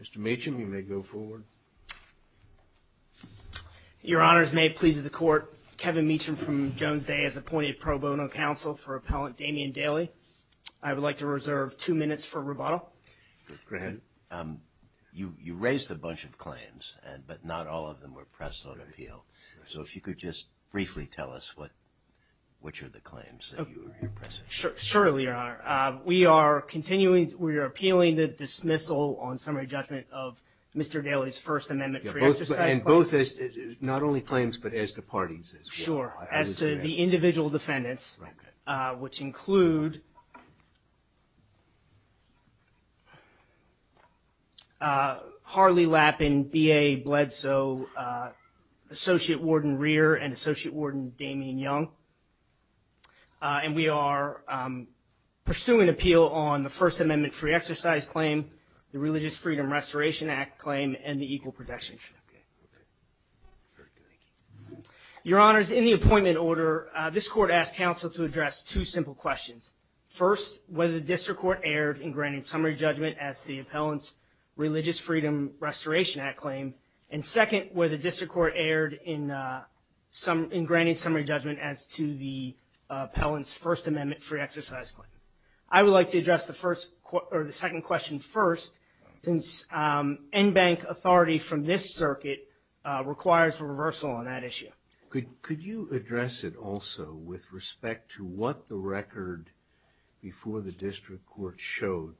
Mr. Meacham, you may go forward. Your Honors, may it please the Court, Kevin Meacham from Jones Day has appointed pro bono counsel for Appellant Damian Daley. I would like to reserve two minutes for rebuttal. Go ahead. You raised a bunch of claims, but not all of them were pressed on appeal. So if you could just briefly tell us which are the claims that you are here pressing. Sure, Your Honor. We are appealing the dismissal on summary judgment of Mr. Daley's First Amendment pre-exercise claims. And both, not only claims, but as to parties as well. Sure, as to the individual defendants, which include Harley Lappin, B.A. Bledsoe, Associate Warden Damian Young. And we are pursuing appeal on the First Amendment pre-exercise claim, the Religious Freedom Restoration Act claim, and the equal protection claim. Your Honors, in the appointment order, this Court asked counsel to address two simple questions. First, whether the District Court erred in granting summary judgment as to the Appellant's Religious Freedom Restoration Act claim, and second, whether the District Court erred in granting summary judgment as to the Appellant's First Amendment pre-exercise claim. I would like to address the second question first, since en banc authority from this circuit requires a reversal on that issue. Could you address it also with respect to what the record before the District Court showed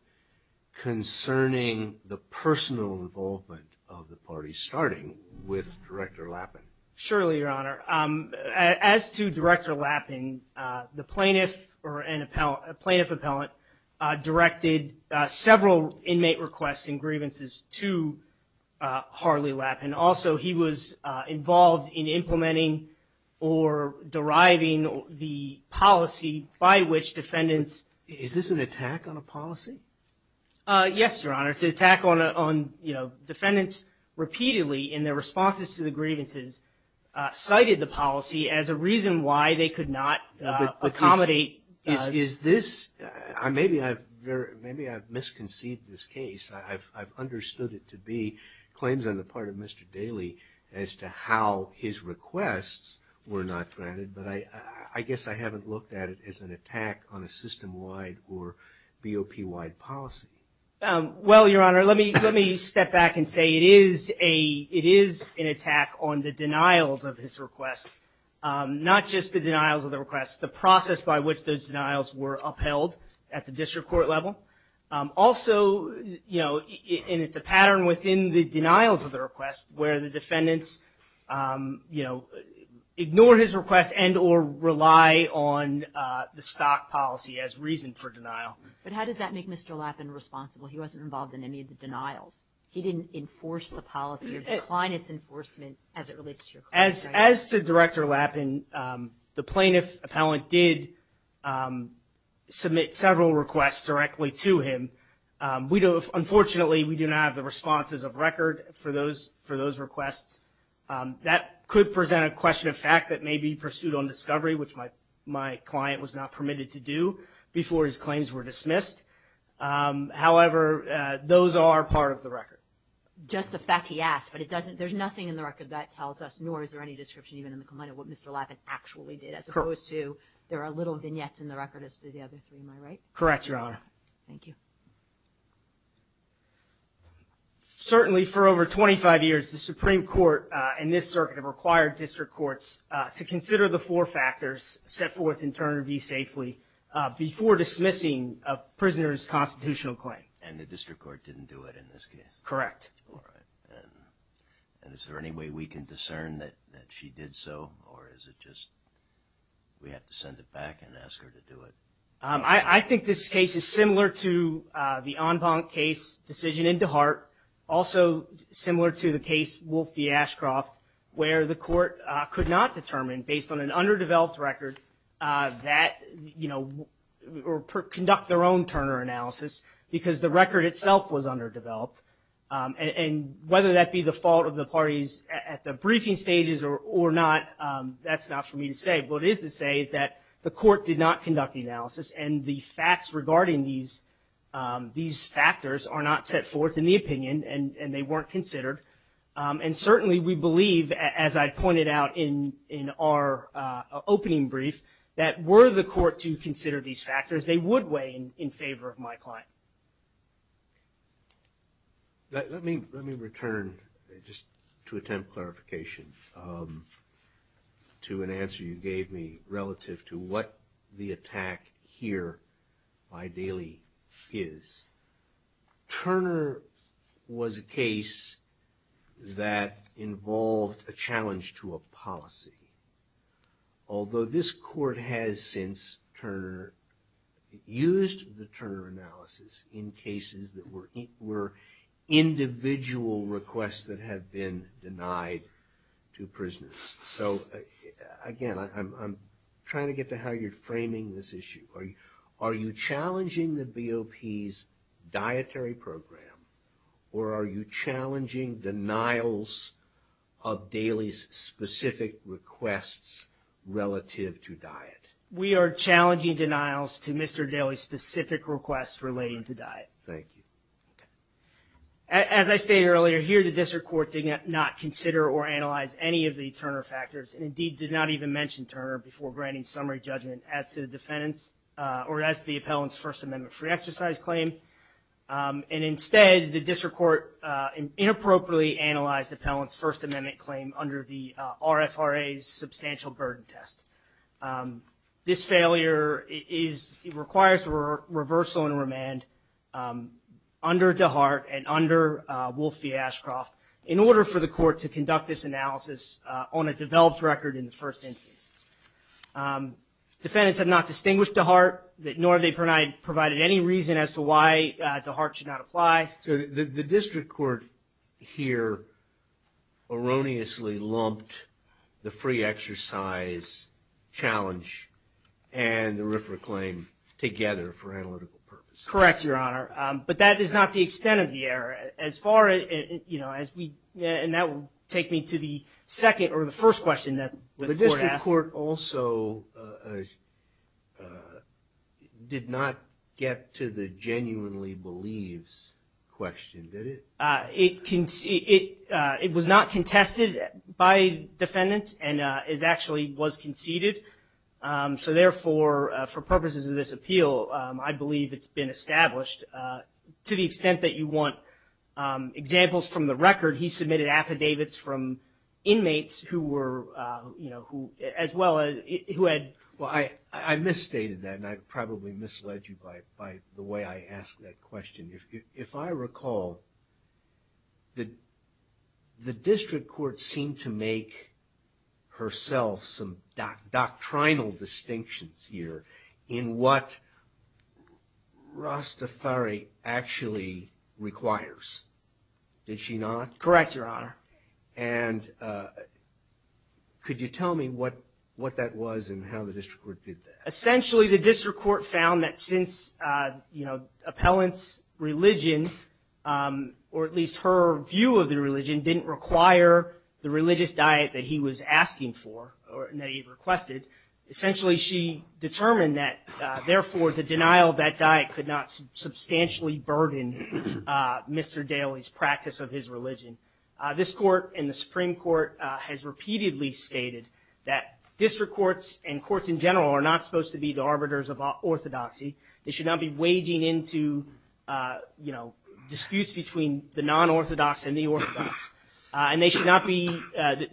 concerning the personal involvement of the parties, starting with Director Lappin? Surely, Your Honor. As to Director Lappin, the plaintiff or an appellant, a plaintiff appellant, directed several inmate requests and grievances to Harley Lappin. Also, he was involved in implementing or deriving the policy by which defendants... Is this an attack on a policy? Yes, Your Honor. It's an attack on, you know, defendants repeatedly in their responses to the grievances cited the policy as a reason why they could not accommodate... Is this... Maybe I've misconceived this case. I've understood it to be claims on the part of Mr. Daly as to how his requests were not granted, but I guess I haven't looked at it as an attack on a system-wide or BOP-wide policy. Well, Your Honor, let me step back and say it is an attack on the denials of his requests. Not just the denials of the requests, the process by which those denials were upheld at the District Court level. Also, you know, and it's a pattern within the denials of the requests where the defendants, you know, ignore his request and or rely on the stock policy as reason for denial. But how does that make Mr. Lappin responsible? He wasn't involved in any of the denials. He didn't enforce the policy or decline its enforcement as it relates to your client, right? As to Director Lappin, the plaintiff appellant did submit several requests directly to him. Unfortunately, we do not have the responses of record for those requests. That could present a question of fact that may be pursued on discovery, which my client was not permitted to do before his claims were dismissed. However, those are part of the record. Just the fact he asked, but it doesn't, there's nothing in the record that tells us, nor is there any description even in the complaint of what Mr. Lappin actually did, as opposed to there are little vignettes in the record as to the other three, am I right? Correct, Your Honor. Thank you. Certainly for over 25 years, the Supreme Court and this circuit have required district courts to consider the four factors, set forth in Turner v. Safely, before dismissing a prisoner's constitutional claim. And the district court didn't do it in this case? Correct. All right. And is there any way we can discern that she did so, or is it just we have to send it back and ask her to do it? I think this case is similar to the Enbank case decision in DeHart, also similar to the case Wolf v. Ashcroft, where the court could not determine, based on an underdeveloped record, that, you know, or conduct their own Turner analysis, because the record itself was underdeveloped. And whether that be the fault of the parties at the briefing stages or not, that's not for me to say. But what I can say, what it is to say, is that the court did not conduct the analysis and the facts regarding these factors are not set forth in the opinion and they weren't considered. And certainly, we believe, as I pointed out in our opening brief, that were the court to consider these factors, they would weigh in favor of my client. Let me return, just to attempt clarification, to an answer you gave me relative to what the attack here ideally is. Turner was a case that involved a challenge to a policy. Although this court has since used the Turner analysis in cases that were individual requests that have been denied to prisoners. So again, I'm trying to get to how you're framing this issue. Are you challenging the BOP's dietary program, or are you challenging denials of Daley's specific requests relative to diet? We are challenging denials to Mr. Daley's specific requests relating to diet. Thank you. Okay. As I stated earlier, here the district court did not consider or analyze any of the Turner factors, and indeed, did not even mention Turner before granting summary judgment as to the defendant's or as to the appellant's First Amendment free exercise claim. And instead, the district court inappropriately analyzed the appellant's First Amendment claim under the RFRA's substantial burden test. This failure requires reversal and remand under DeHart and under Wolf v. Ashcroft in order for the court to conduct this analysis on a developed record in the first instance. Defendants have not distinguished DeHart, nor have they provided any reason as to why DeHart should not apply. The district court here erroneously lumped the free exercise challenge and the RFRA claim together for analytical purposes. Correct, Your Honor. But that is not the extent of the error. As far as, you know, as we, and that will take me to the second or the first question that the court asked. The court also did not get to the genuinely believes question, did it? It was not contested by defendants, and it actually was conceded. So therefore, for purposes of this appeal, I believe it's been established. To the extent that you want examples from the record, he submitted affidavits from inmates who were, you know, who, as well as, who had. Well, I misstated that, and I probably misled you by the way I asked that question. If I recall, the district court seemed to make herself some doctrinal distinctions here in what Rastafari actually requires. Did she not? Correct, Your Honor. And could you tell me what that was and how the district court did that? Essentially, the district court found that since, you know, appellant's religion, or at least her view of the religion, didn't require the religious diet that he was asking for or that he requested. Essentially, she determined that, therefore, the denial of that diet could not substantially burden Mr. Daly's practice of his religion. This court and the Supreme Court has repeatedly stated that district courts and courts in general are not supposed to be the arbiters of orthodoxy. They should not be waging into, you know, disputes between the non-orthodox and the orthodox. And they should not be,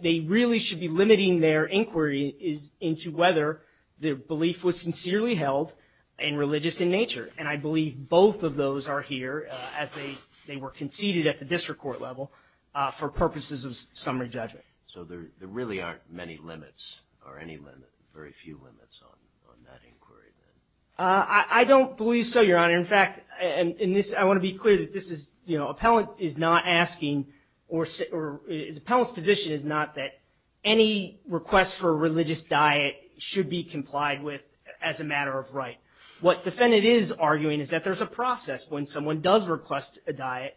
they really should be limiting their inquiry into whether their belief was sincerely held and religious in nature. And I believe both of those are here, as they were conceded at the district court level, for purposes of summary judgment. So there really aren't many limits or any limit, very few limits on that inquiry? I don't believe so, Your Honor. In fact, in this, I want to be clear that this is, you know, appellant is not asking or appellant's position is not that any request for a religious diet should be complied with as a matter of right. What defendant is arguing is that there's a process when someone does request a diet,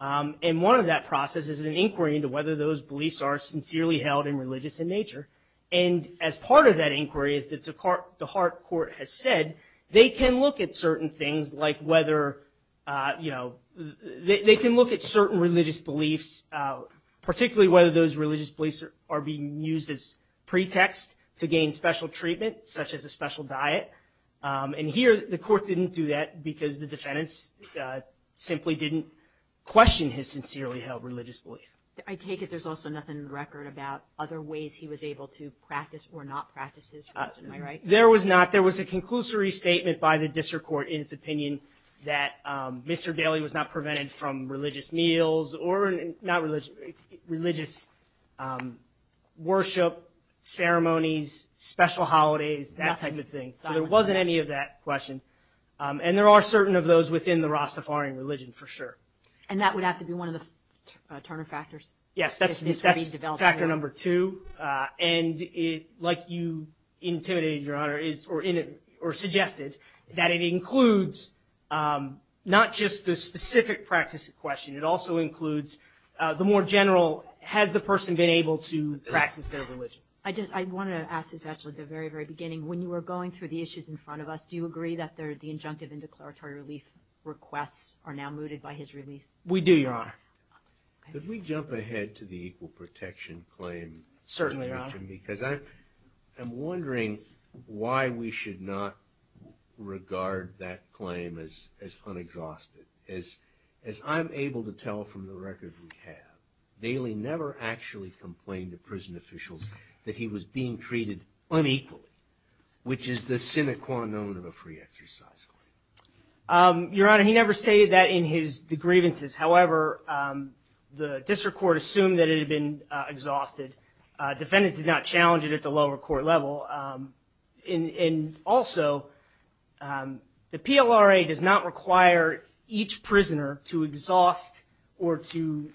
and one of that process is an inquiry into whether those beliefs are sincerely held and religious in nature. And as part of that inquiry is that the heart court has said, they can look at certain things like whether, you know, they can look at certain religious beliefs, particularly whether those religious beliefs are being used as And here, the court didn't do that because the defendants simply didn't question his sincerely held religious belief. I take it there's also nothing in the record about other ways he was able to practice or not practice his religion, am I right? There was not. There was a conclusory statement by the district court in its opinion that Mr. Daley was not prevented from religious meals or not religious, religious worship, ceremonies, special holidays, that type of thing. So there wasn't any of that question. And there are certain of those within the Rastafarian religion, for sure. And that would have to be one of the Turner factors? Yes, that's factor number two. And like you intimidated, Your Honor, or suggested, that it includes not just the specific practice question, it also includes the more general, has the person been able to practice their religion? I just, I wanted to ask this actually at the very, very beginning. When you were going through the issues in front of us, do you agree that the injunctive and declaratory relief requests are now mooted by his release? We do, Your Honor. Could we jump ahead to the equal protection claim? Certainly, Your Honor. Because I'm wondering why we should not regard that claim as unexhausted. As, as I'm able to tell from the record we have, Daley never actually complained to prison officials that he was being treated unequally. Which is the sine qua non of a free exercise claim. Your Honor, he never stated that in his, the grievances. However, the district court assumed that it had been exhausted. Defendants did not challenge it at the lower court level. In, in also, the PLRA does not require each prisoner to exhaust or to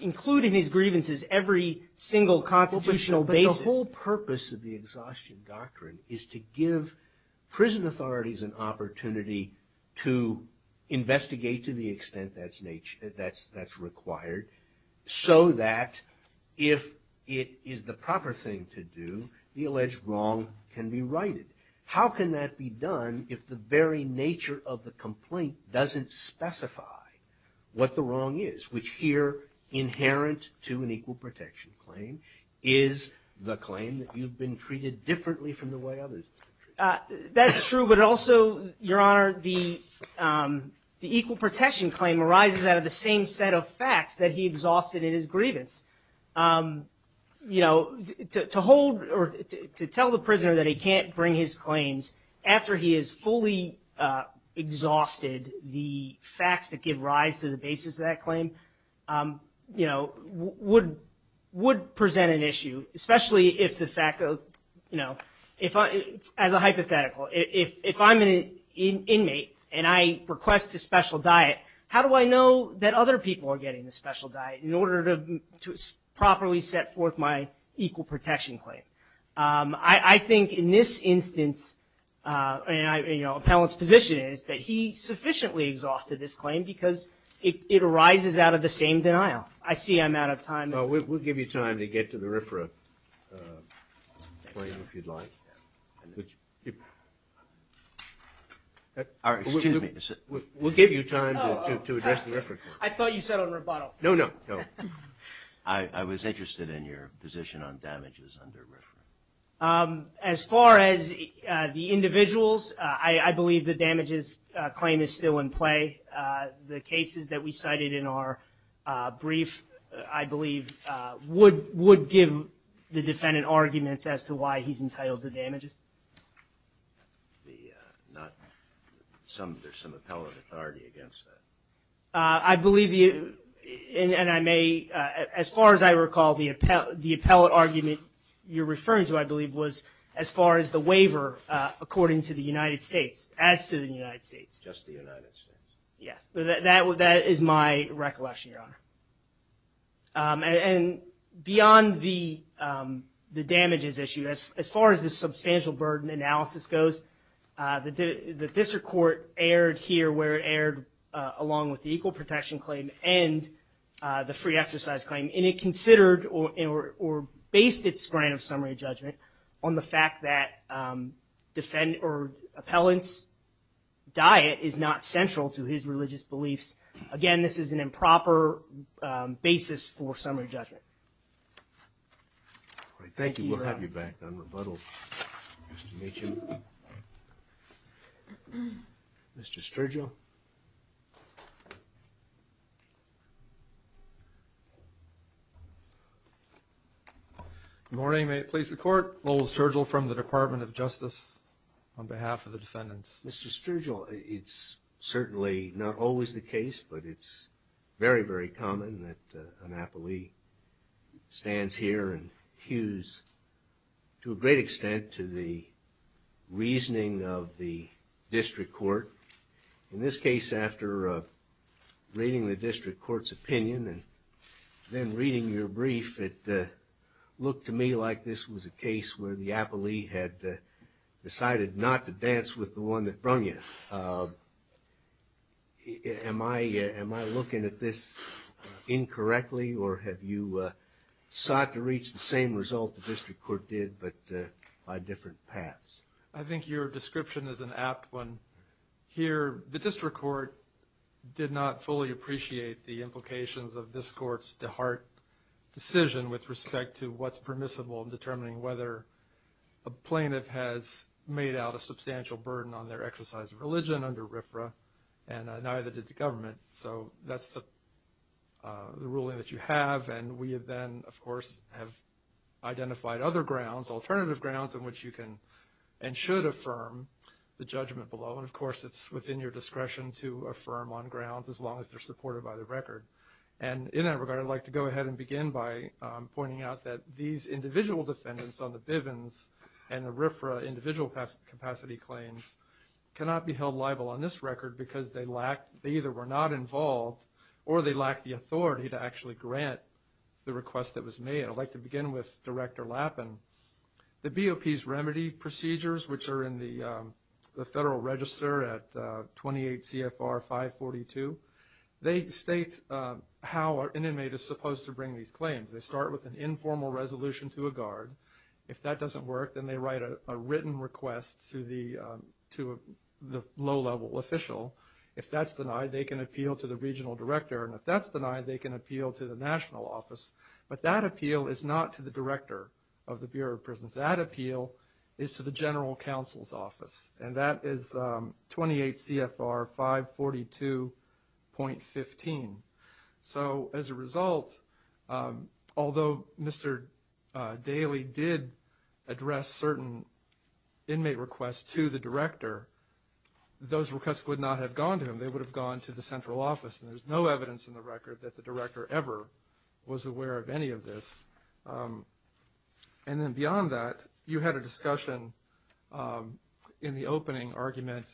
include in his grievances every single constitutional basis. But the whole purpose of the exhaustion doctrine is to give prison authorities an opportunity to investigate to the extent that's nature, that's, that's required, so that if it is the proper thing to do, the alleged wrong can be righted. How can that be done if the very nature of the complaint doesn't specify what the wrong is, which here, inherent to an equal protection claim, is the claim that you've been treated differently from the way others have been treated? That's true, but also, Your Honor, the, the equal protection claim arises out of the same set of facts that he exhausted in his grievance. You know, to, to hold, or to, to tell the prisoner that he can't bring his claims after he has fully exhausted the facts that give rise to the basis of that claim, you know, would, would present an issue, especially if the fact of, you know, if I, as a hypothetical, if, if I'm an in, inmate, and I request a special diet, how do I know that other people are getting the special diet in order to, to properly set forth my equal protection claim? I, I think in this instance, and I, you know, appellant's position is that he sufficiently exhausted this claim, because it, it arises out of the same denial. I see I'm out of time. Well, we'll, we'll give you time to get to the RFRA claim if you'd like. Which, excuse me, we'll, we'll give you time to, to, to address the RFRA claim. I thought you said on rebuttal. No, no, no. I, I was interested in your position on damages under RFRA. As far as the individuals, I, I believe the damages claim is still in play. The cases that we cited in our brief, I believe, would, would give the defendant arguments as to why he's entitled to damages. The not, some, there's some appellate authority against that. I believe the, and, and I may, as far as I recall, the appellate, the appellate argument you're referring to, I believe, was as far as the waiver, according to the United States, as to the United States. Just the United States. Yes, that, that, that is my recollection, Your Honor. And, and beyond the, the damages issue, as, as far as the substantial burden analysis goes the, the district court aired here, where it aired along with the equal protection claim and the free exercise claim. And it considered or, or, or based its grant of summary judgment on the fact that defend, or appellant's diet is not central to his religious beliefs. Again, this is an improper basis for summary judgment. All right, thank you. We'll have you back on rebuttal. Nice to meet you. Mr. Sturgill. Good morning, may it please the court. Lowell Sturgill from the Department of Justice on behalf of the defendants. Mr. Sturgill, it's certainly not always the case, but it's very, very common that an appellee stands here and looks at the reasoning of the district court. In this case, after reading the district court's opinion, and then reading your brief, it looked to me like this was a case where the appellee had decided not to dance with the one that brung you. Am I, am I looking at this incorrectly, or have you sought to reach the same result the district court did, but by different paths? I think your description is an apt one. Here, the district court did not fully appreciate the implications of this court's DeHart decision with respect to what's permissible in determining whether a plaintiff has made out a substantial burden on their exercise of religion under RFRA, and neither did the government, so that's the, the ruling that you have. And we have then, of course, have identified other grounds, alternative grounds in which you can and should affirm the judgment below. And of course, it's within your discretion to affirm on grounds as long as they're supported by the record. And in that regard, I'd like to go ahead and begin by pointing out that these individual defendants on the Bivens and the RFRA individual capacity claims cannot be held liable on this record because they lack, they either were not the request that was made. I'd like to begin with Director Lappin. The BOP's remedy procedures, which are in the federal register at 28 CFR 542, they state how an inmate is supposed to bring these claims. They start with an informal resolution to a guard. If that doesn't work, then they write a written request to the low-level official. If that's denied, they can appeal to the regional director, and if that's denied, they can appeal to the national office. But that appeal is not to the director of the Bureau of Prisons. That appeal is to the general counsel's office, and that is 28 CFR 542.15. So as a result, although Mr. Daley did address certain inmate requests to the director, those requests would not have gone to him. They would have gone to the central office, and there's no evidence in the record that the director ever was aware of any of this. And then beyond that, you had a discussion in the opening argument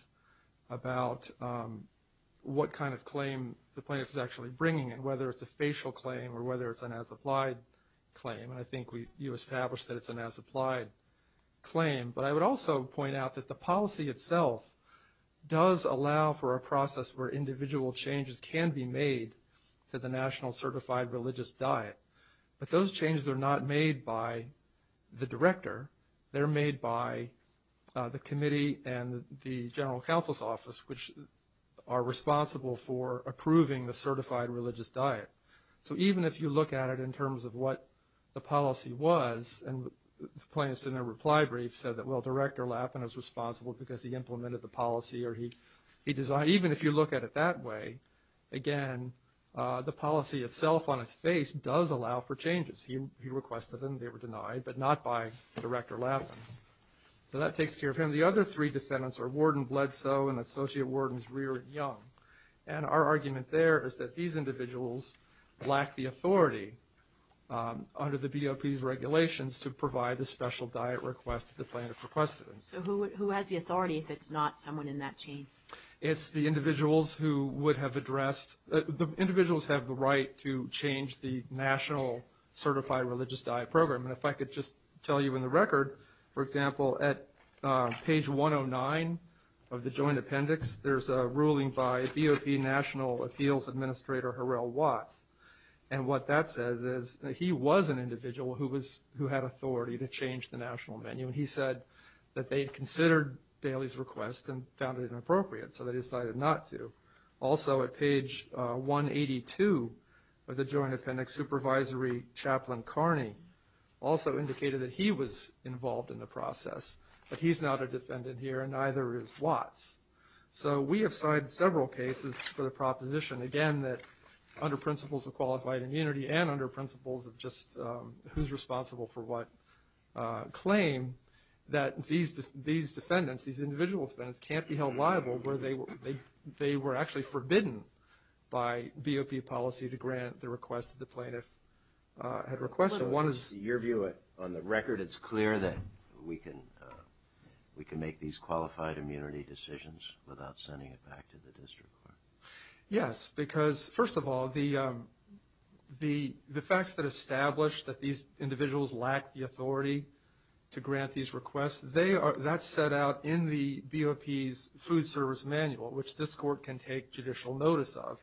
about what kind of claim the plaintiff is actually bringing, whether it's a facial claim or whether it's an as-applied claim. And I think you established that it's an as-applied claim. But I would also point out that the policy itself does allow for a process where individual changes can be made to the national certified religious diet. But those changes are not made by the director. They're made by the committee and the general counsel's office, which are responsible for approving the certified religious diet. So even if you look at it in terms of what the policy was, and the plaintiff's in their reply brief said that, well, Director Lappin is responsible because he looked at it that way, again, the policy itself on its face does allow for changes. He requested them, they were denied, but not by Director Lappin. So that takes care of him. The other three defendants are Warden Bledsoe and Associate Wardens Reard Young. And our argument there is that these individuals lack the authority under the BOP's regulations to provide the special diet request that the plaintiff requested. So who has the authority if it's not someone in that chain? It's the individuals who would have addressed, the individuals have the right to change the national certified religious diet program. And if I could just tell you in the record, for example, at page 109 of the joint appendix, there's a ruling by BOP National Appeals Administrator Harrell Watts. And what that says is that he was an individual who had authority to change the national menu. He said that they had considered Daley's request and found it inappropriate. So they decided not to. Also at page 182 of the joint appendix, Supervisory Chaplain Carney also indicated that he was involved in the process, but he's not a defendant here and neither is Watts. So we have signed several cases for the proposition, again, that under principles of qualified immunity and under principles of just who's responsible for what claim that these defendants, these individual defendants can't be held liable where they were actually forbidden by BOP policy to grant the request that the plaintiff had requested. One is- Your view on the record, it's clear that we can make these qualified immunity decisions without sending it back to the district court. Yes, because first of all, the facts that establish that these individuals lack the authority to grant these requests, that's set out in the BOP's food service manual, which this court can take judicial notice of.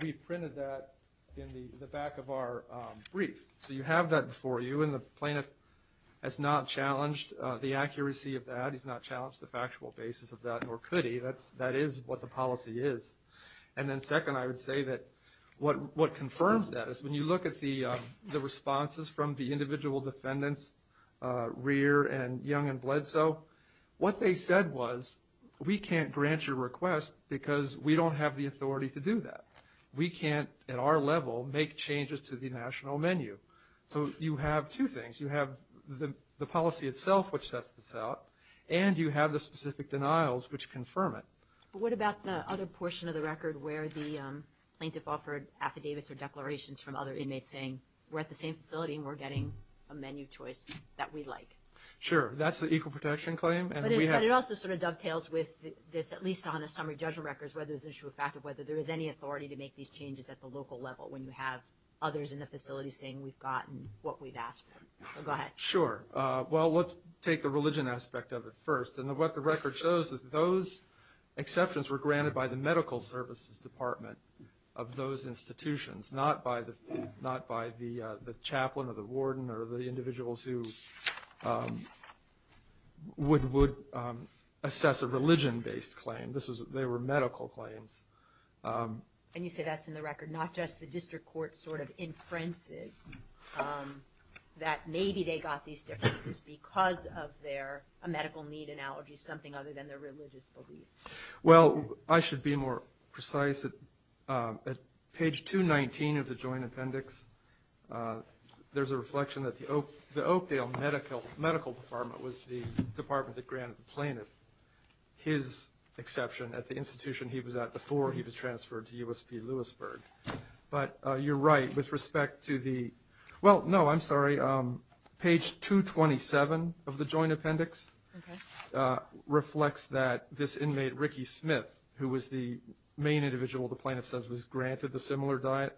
We printed that in the back of our brief. So you have that before you and the plaintiff has not challenged the accuracy of that. He's not challenged the factual basis of that, nor could he. That is what the policy is. And then second, I would say that what confirms that is when you look at the individual defendants, Rear and Young and Bledsoe, what they said was, we can't grant your request because we don't have the authority to do that. We can't, at our level, make changes to the national menu. So you have two things. You have the policy itself, which sets this out, and you have the specific denials, which confirm it. But what about the other portion of the record where the plaintiff offered affidavits or declarations from other inmates saying, we're at the same facility and we're getting a menu choice that we like? Sure. That's the equal protection claim. But it also sort of dovetails with this, at least on a summary judgment record, whether there's an issue of fact or whether there is any authority to make these changes at the local level when you have others in the facility saying we've gotten what we've asked for. So go ahead. Sure. Well, let's take the religion aspect of it first. And what the record shows is that those exceptions were granted by the medical services department of those institutions, not by the chaplain or the warden or the individuals who would assess a religion-based claim. They were medical claims. And you say that's in the record, not just the district court sort of inferences that maybe they got these differences because of their medical need analogy, something other than their religious beliefs. Well, I should be more precise. At page 219 of the joint appendix, there's a reflection that the Oakdale Medical Department was the department that granted the plaintiff his exception at the institution he was at before he was transferred to USP Lewisburg. But you're right with respect to the... Well, no, I'm sorry. Page 227 of the joint appendix reflects that this inmate, Ricky Smith, who was the main individual the plaintiff says was granted the similar diet,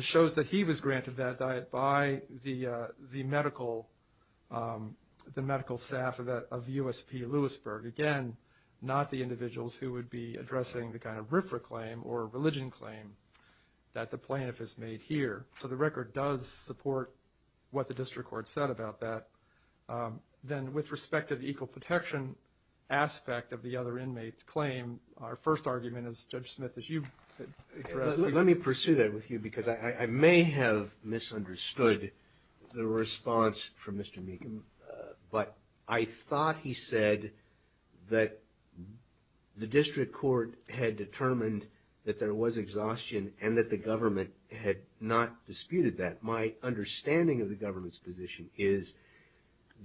shows that he was granted that diet by the medical staff of USP Lewisburg, again, not the individuals who would be addressing the kind of RFRA claim or religion claim that the plaintiff has made here. So the record does support what the district court said about that. Then with respect to the equal protection aspect of the other inmates claim, our first argument is, Judge Smith, as you said... Let me pursue that with you because I may have misunderstood the response from Mr. Meekam, but I thought he said that the district court had disputed that. My understanding of the government's position is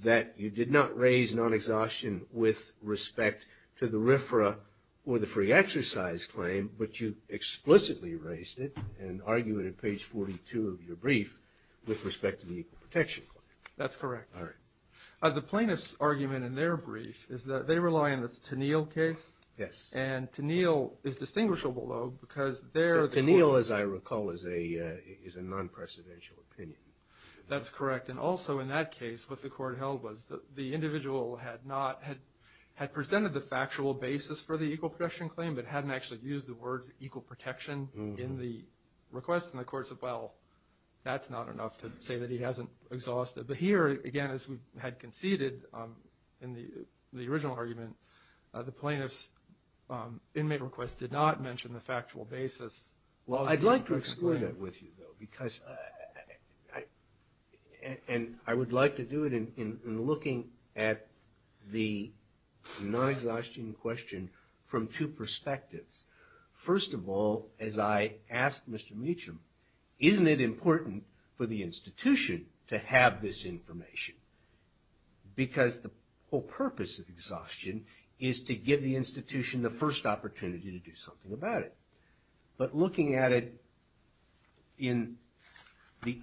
that you did not raise non-exhaustion with respect to the RFRA or the free exercise claim, but you explicitly raised it and argue it at page 42 of your brief with respect to the equal protection claim. That's correct. All right. The plaintiff's argument in their brief is that they rely on this Tennille case. Yes. And Tennille is distinguishable, though, because there... Tennille, as I recall, is a non-presidential opinion. That's correct. And also, in that case, what the court held was that the individual had presented the factual basis for the equal protection claim but hadn't actually used the words equal protection in the request. And the court said, well, that's not enough to say that he hasn't exhausted. But here, again, as we had conceded in the original argument, the plaintiff's inmate request did not mention the factual basis. Well, I'd like to explore that with you, though, because I would like to do it in looking at the non-exhaustion question from two perspectives. First of all, as I asked Mr. Meacham, isn't it important for the institution to have this information? Because the whole purpose of exhaustion is to give the institution the first opportunity to do something about it. But looking at it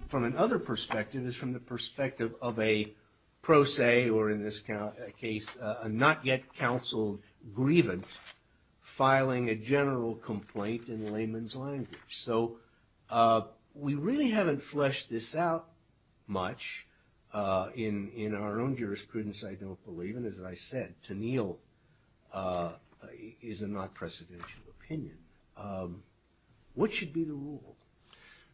from another perspective is from the perspective of a pro se or, in this case, a not yet counseled grievance filing a general complaint in layman's language. So we really haven't fleshed this out much in our own jurisprudence, I don't believe. Even as I said, Tenniel is a not precedential opinion. What should be the rule?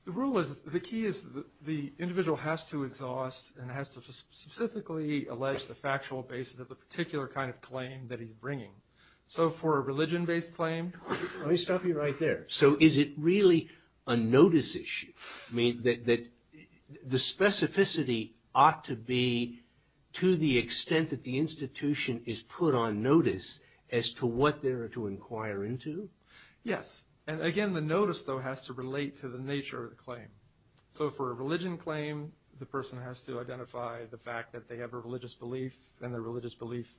The rule is, the key is the individual has to exhaust and has to specifically allege the factual basis of the particular kind of claim that he's bringing. So for a religion-based claim... Let me stop you right there. So is it really a notice issue? I mean, the specificity ought to be to the extent that the institution is put on notice as to what they're to inquire into? Yes. And again, the notice, though, has to relate to the nature of the claim. So for a religion claim, the person has to identify the fact that they have a religious belief and the religious belief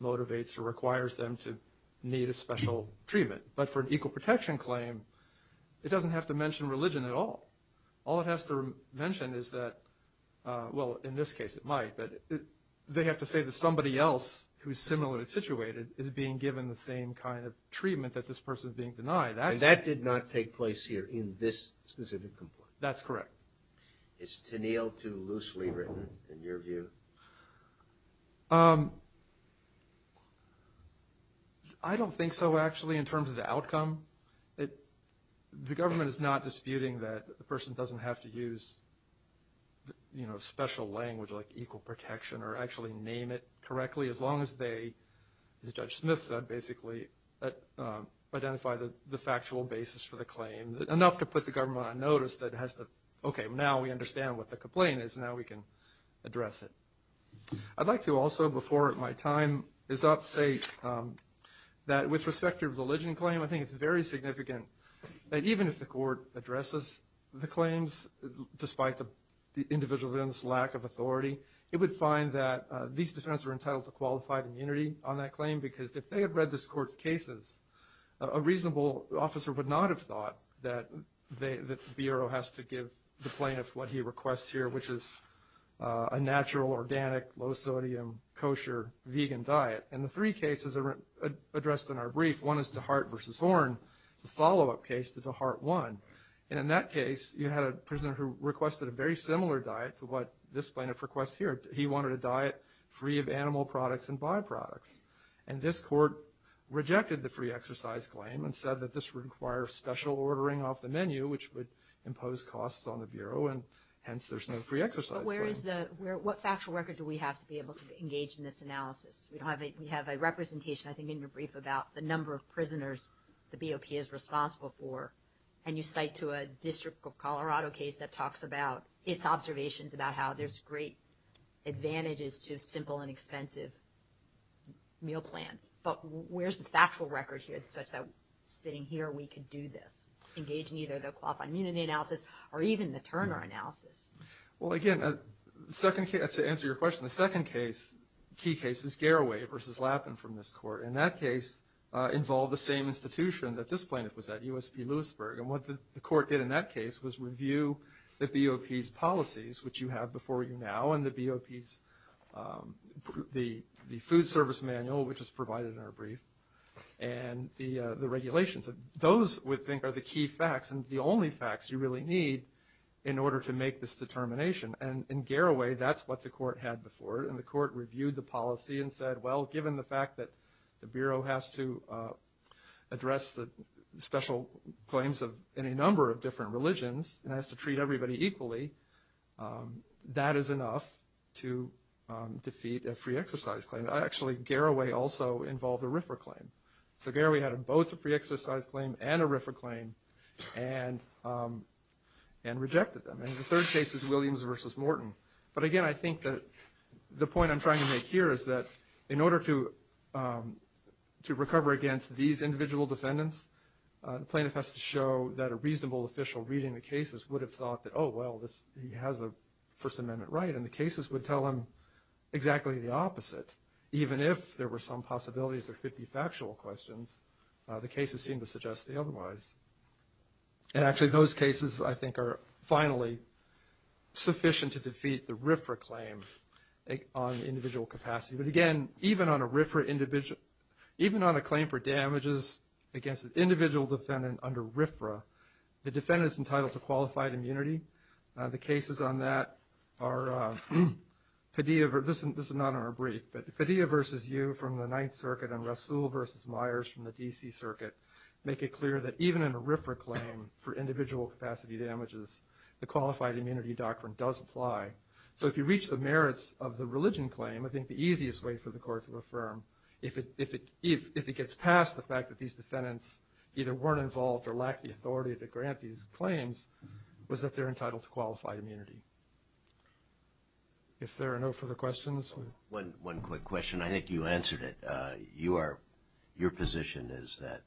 motivates or requires them to need a special treatment. But for an equal protection claim, it doesn't have to mention religion at all. All it has to mention is that, well, in this case, it might. But they have to say that somebody else who's similarly situated is being given the same kind of treatment that this person is being denied. And that did not take place here in this specific complaint. That's correct. Is Tenniel too loosely written, in your view? I don't think so, actually, in terms of the outcome. The government is not disputing that the person doesn't have to use, you know, special language like equal protection or actually name it correctly as long as they, as Judge Smith said, basically identify the factual basis for the claim. Enough to put the government on notice that has to, okay, now we understand what the complaint is, now we can address it. I'd like to also, before my time is up, say that with respect to religion claim, I think it's very significant that even if the court addresses the claims, despite the individual's lack of authority, it would find that these defendants are entitled to qualified immunity on that claim. Because if they had read this court's cases, a reasonable officer would not have thought that the Bureau has to give the plaintiff what he requests here, which is a natural, organic, low-sodium, kosher, vegan diet. And the three cases are addressed in our brief. One is DeHart v. Horn, the follow-up case that DeHart won. And in that case, you had a prisoner who requested a very similar diet to what this plaintiff requests here. He wanted a diet free of animal products and byproducts. And this court rejected the free exercise claim and said that this would require special ordering off the menu, which would impose costs on the Bureau. And hence, there's no free exercise claim. But what factual record do we have to be able to engage in this analysis? We have a representation, I think, in your brief about the number of prisoners the BOP is responsible for. And you cite to a District of Colorado case that talks about its observations about how there's great advantages to simple and expensive meal plans. But where's the factual record here such that sitting here, we could do this, engage in either the qualified immunity analysis or even the Turner analysis? Well, again, to answer your question, the second key case is Garaway v. Lappin from this court. And that case involved the same institution that this plaintiff was at, USP Lewisburg. And what the court did in that case was review the BOP's policies, which you have before you now, and the BOP's, the food service manual, which is provided in our brief, and the regulations. Those, we think, are the key facts and the only facts you really need in order to make this determination. And in Garaway, that's what the court had before, and the court reviewed the policy and said, well, given the fact that the Bureau has to address the special claims of any number of different religions and has to treat everybody equally, that is enough to defeat a free exercise claim. Actually, Garaway also involved a RFRA claim. So Garaway had both a free exercise claim and a RFRA claim and rejected them. And the third case is Williams versus Morton. But again, I think that the point I'm trying to make here is that, in order to recover against these individual defendants, the plaintiff has to show that a reasonable official reading the cases would have thought that, well, he has a First Amendment right. And the cases would tell him exactly the opposite. Even if there were some possibilities or 50 factual questions, the cases seem to suggest the otherwise. And actually, those cases, I think, are finally sufficient to defeat the RFRA claim on individual capacity. But again, even on a RFRA individual, even on a claim for damages against an individual defendant under RFRA, the defendant is entitled to qualified immunity. The cases on that are Padilla, this is not on our brief, but Padilla versus Yu from the Ninth Circuit and Rasul versus Myers from the DC Circuit make it clear that even in a RFRA claim for individual capacity damages, the qualified immunity doctrine does apply. So if you reach the merits of the religion claim, I think the easiest way for the court to affirm, if it gets past the fact that these defendants either weren't involved or lacked the authority to grant these defendants, they're entitled to qualified immunity. If there are no further questions. One quick question, I think you answered it. Your position is that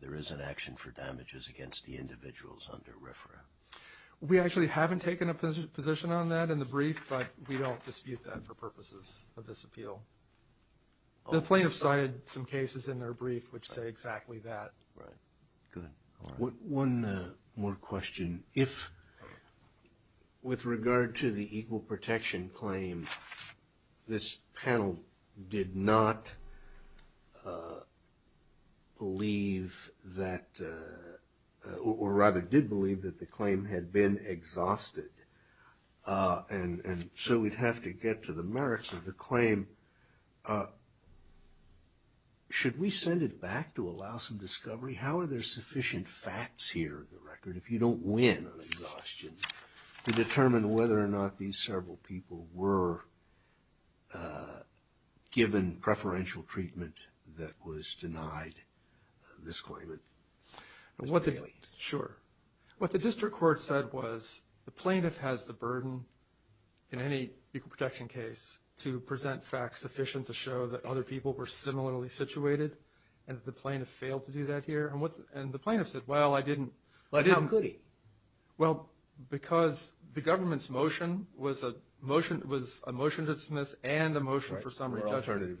there is an action for damages against the individuals under RFRA. We actually haven't taken a position on that in the brief, but we don't dispute that for purposes of this appeal. The plaintiff cited some cases in their brief which say exactly that. Right, good. One more question. If with regard to the equal protection claim, this panel did not believe that, or rather did believe that the claim had been exhausted. And so we'd have to get to the merits of the claim. Should we send it back to allow some discovery? How are there sufficient facts here in the record, if you don't win on exhaustion, to determine whether or not these several people were given preferential treatment that was denied this claimant? Sure. What the district court said was, the plaintiff has the burden in any equal protection case to present facts sufficient to show that other people were similarly situated, and that the plaintiff failed to do that here. And the plaintiff said, well, I didn't. Well, how could he? Well, because the government's motion was a motion to dismiss and a motion for some re-judgment.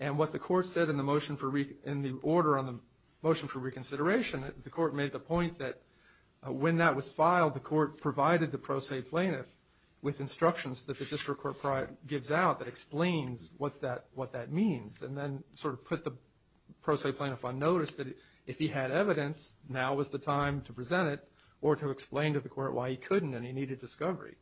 And what the court said in the order on the motion for reconsideration, the court made the point that when that was filed, the court provided the pro se plaintiff with instructions that the district court gives out that explains what that means, and then sort of put the pro se plaintiff on notice that if he had evidence, now was the time to present it, or to explain to the court why he couldn't and he needed discovery.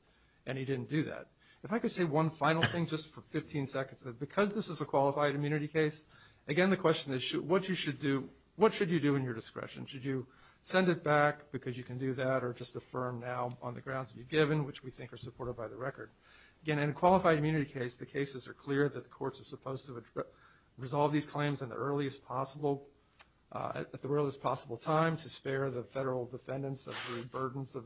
And he didn't do that. If I could say one final thing, just for 15 seconds, that because this is a qualified immunity case, again, the question is, what should you do in your discretion? Should you send it back because you can do that, or just affirm now on the grounds that you've given, which we think are supported by the record? Again, in a qualified immunity case, the cases are clear that the courts are supposed to resolve these claims at the earliest possible time to spare the federal defendants of the burdens of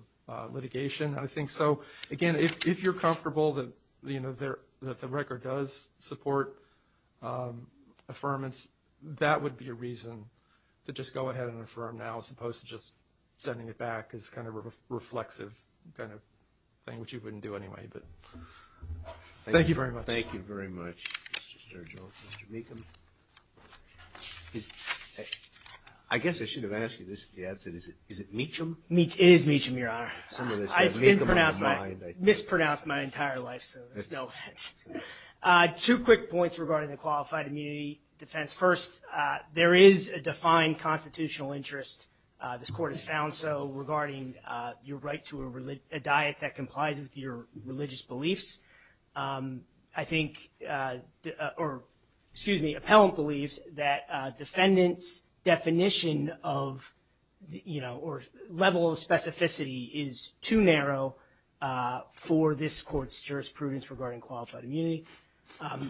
litigation, I think. So again, if you're comfortable that the record does support affirmance, that would be a reason to just go ahead and affirm now, as opposed to just sending it back as kind of a reflexive kind of thing, which you wouldn't do anyway, but thank you very much. Thank you very much, Mr. Sturgill, Mr. Meacham. I guess I should have asked you this if you had said, is it Meacham? It is Meacham, Your Honor. Some of this has Meacham on the mind, I think. Mispronounced my entire life, so it's no offense. Two quick points regarding the qualified immunity defense. First, there is a defined constitutional interest, this court has found so, regarding your right to a diet that complies with your religious beliefs, I think, or excuse me, appellant believes that defendant's definition of, you know, or level of specificity is too narrow for this court's jurisprudence regarding qualified immunity.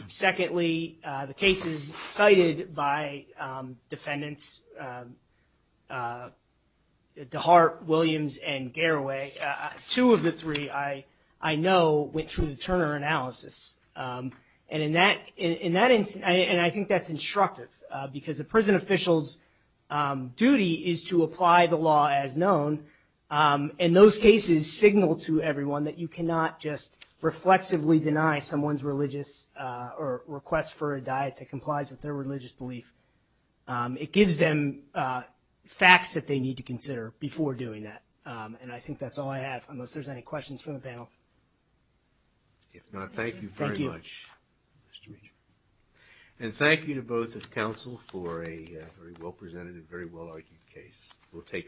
Secondly, the cases cited by defendants, DeHart, Williams, and Garraway, two of the three, I know, went through the Turner analysis. And in that instance, and I think that's instructive, because a prison official's duty is to apply the law as known. And those cases signal to everyone that you cannot just reflexively deny someone's religious, or request for a diet that complies with their religious belief. It gives them facts that they need to consider before doing that. And I think that's all I have, unless there's any questions from the panel. If not, thank you very much. Thank you. Mr. Meacham. And thank you to both of counsel for a very well presented and very well argued case. We'll take it.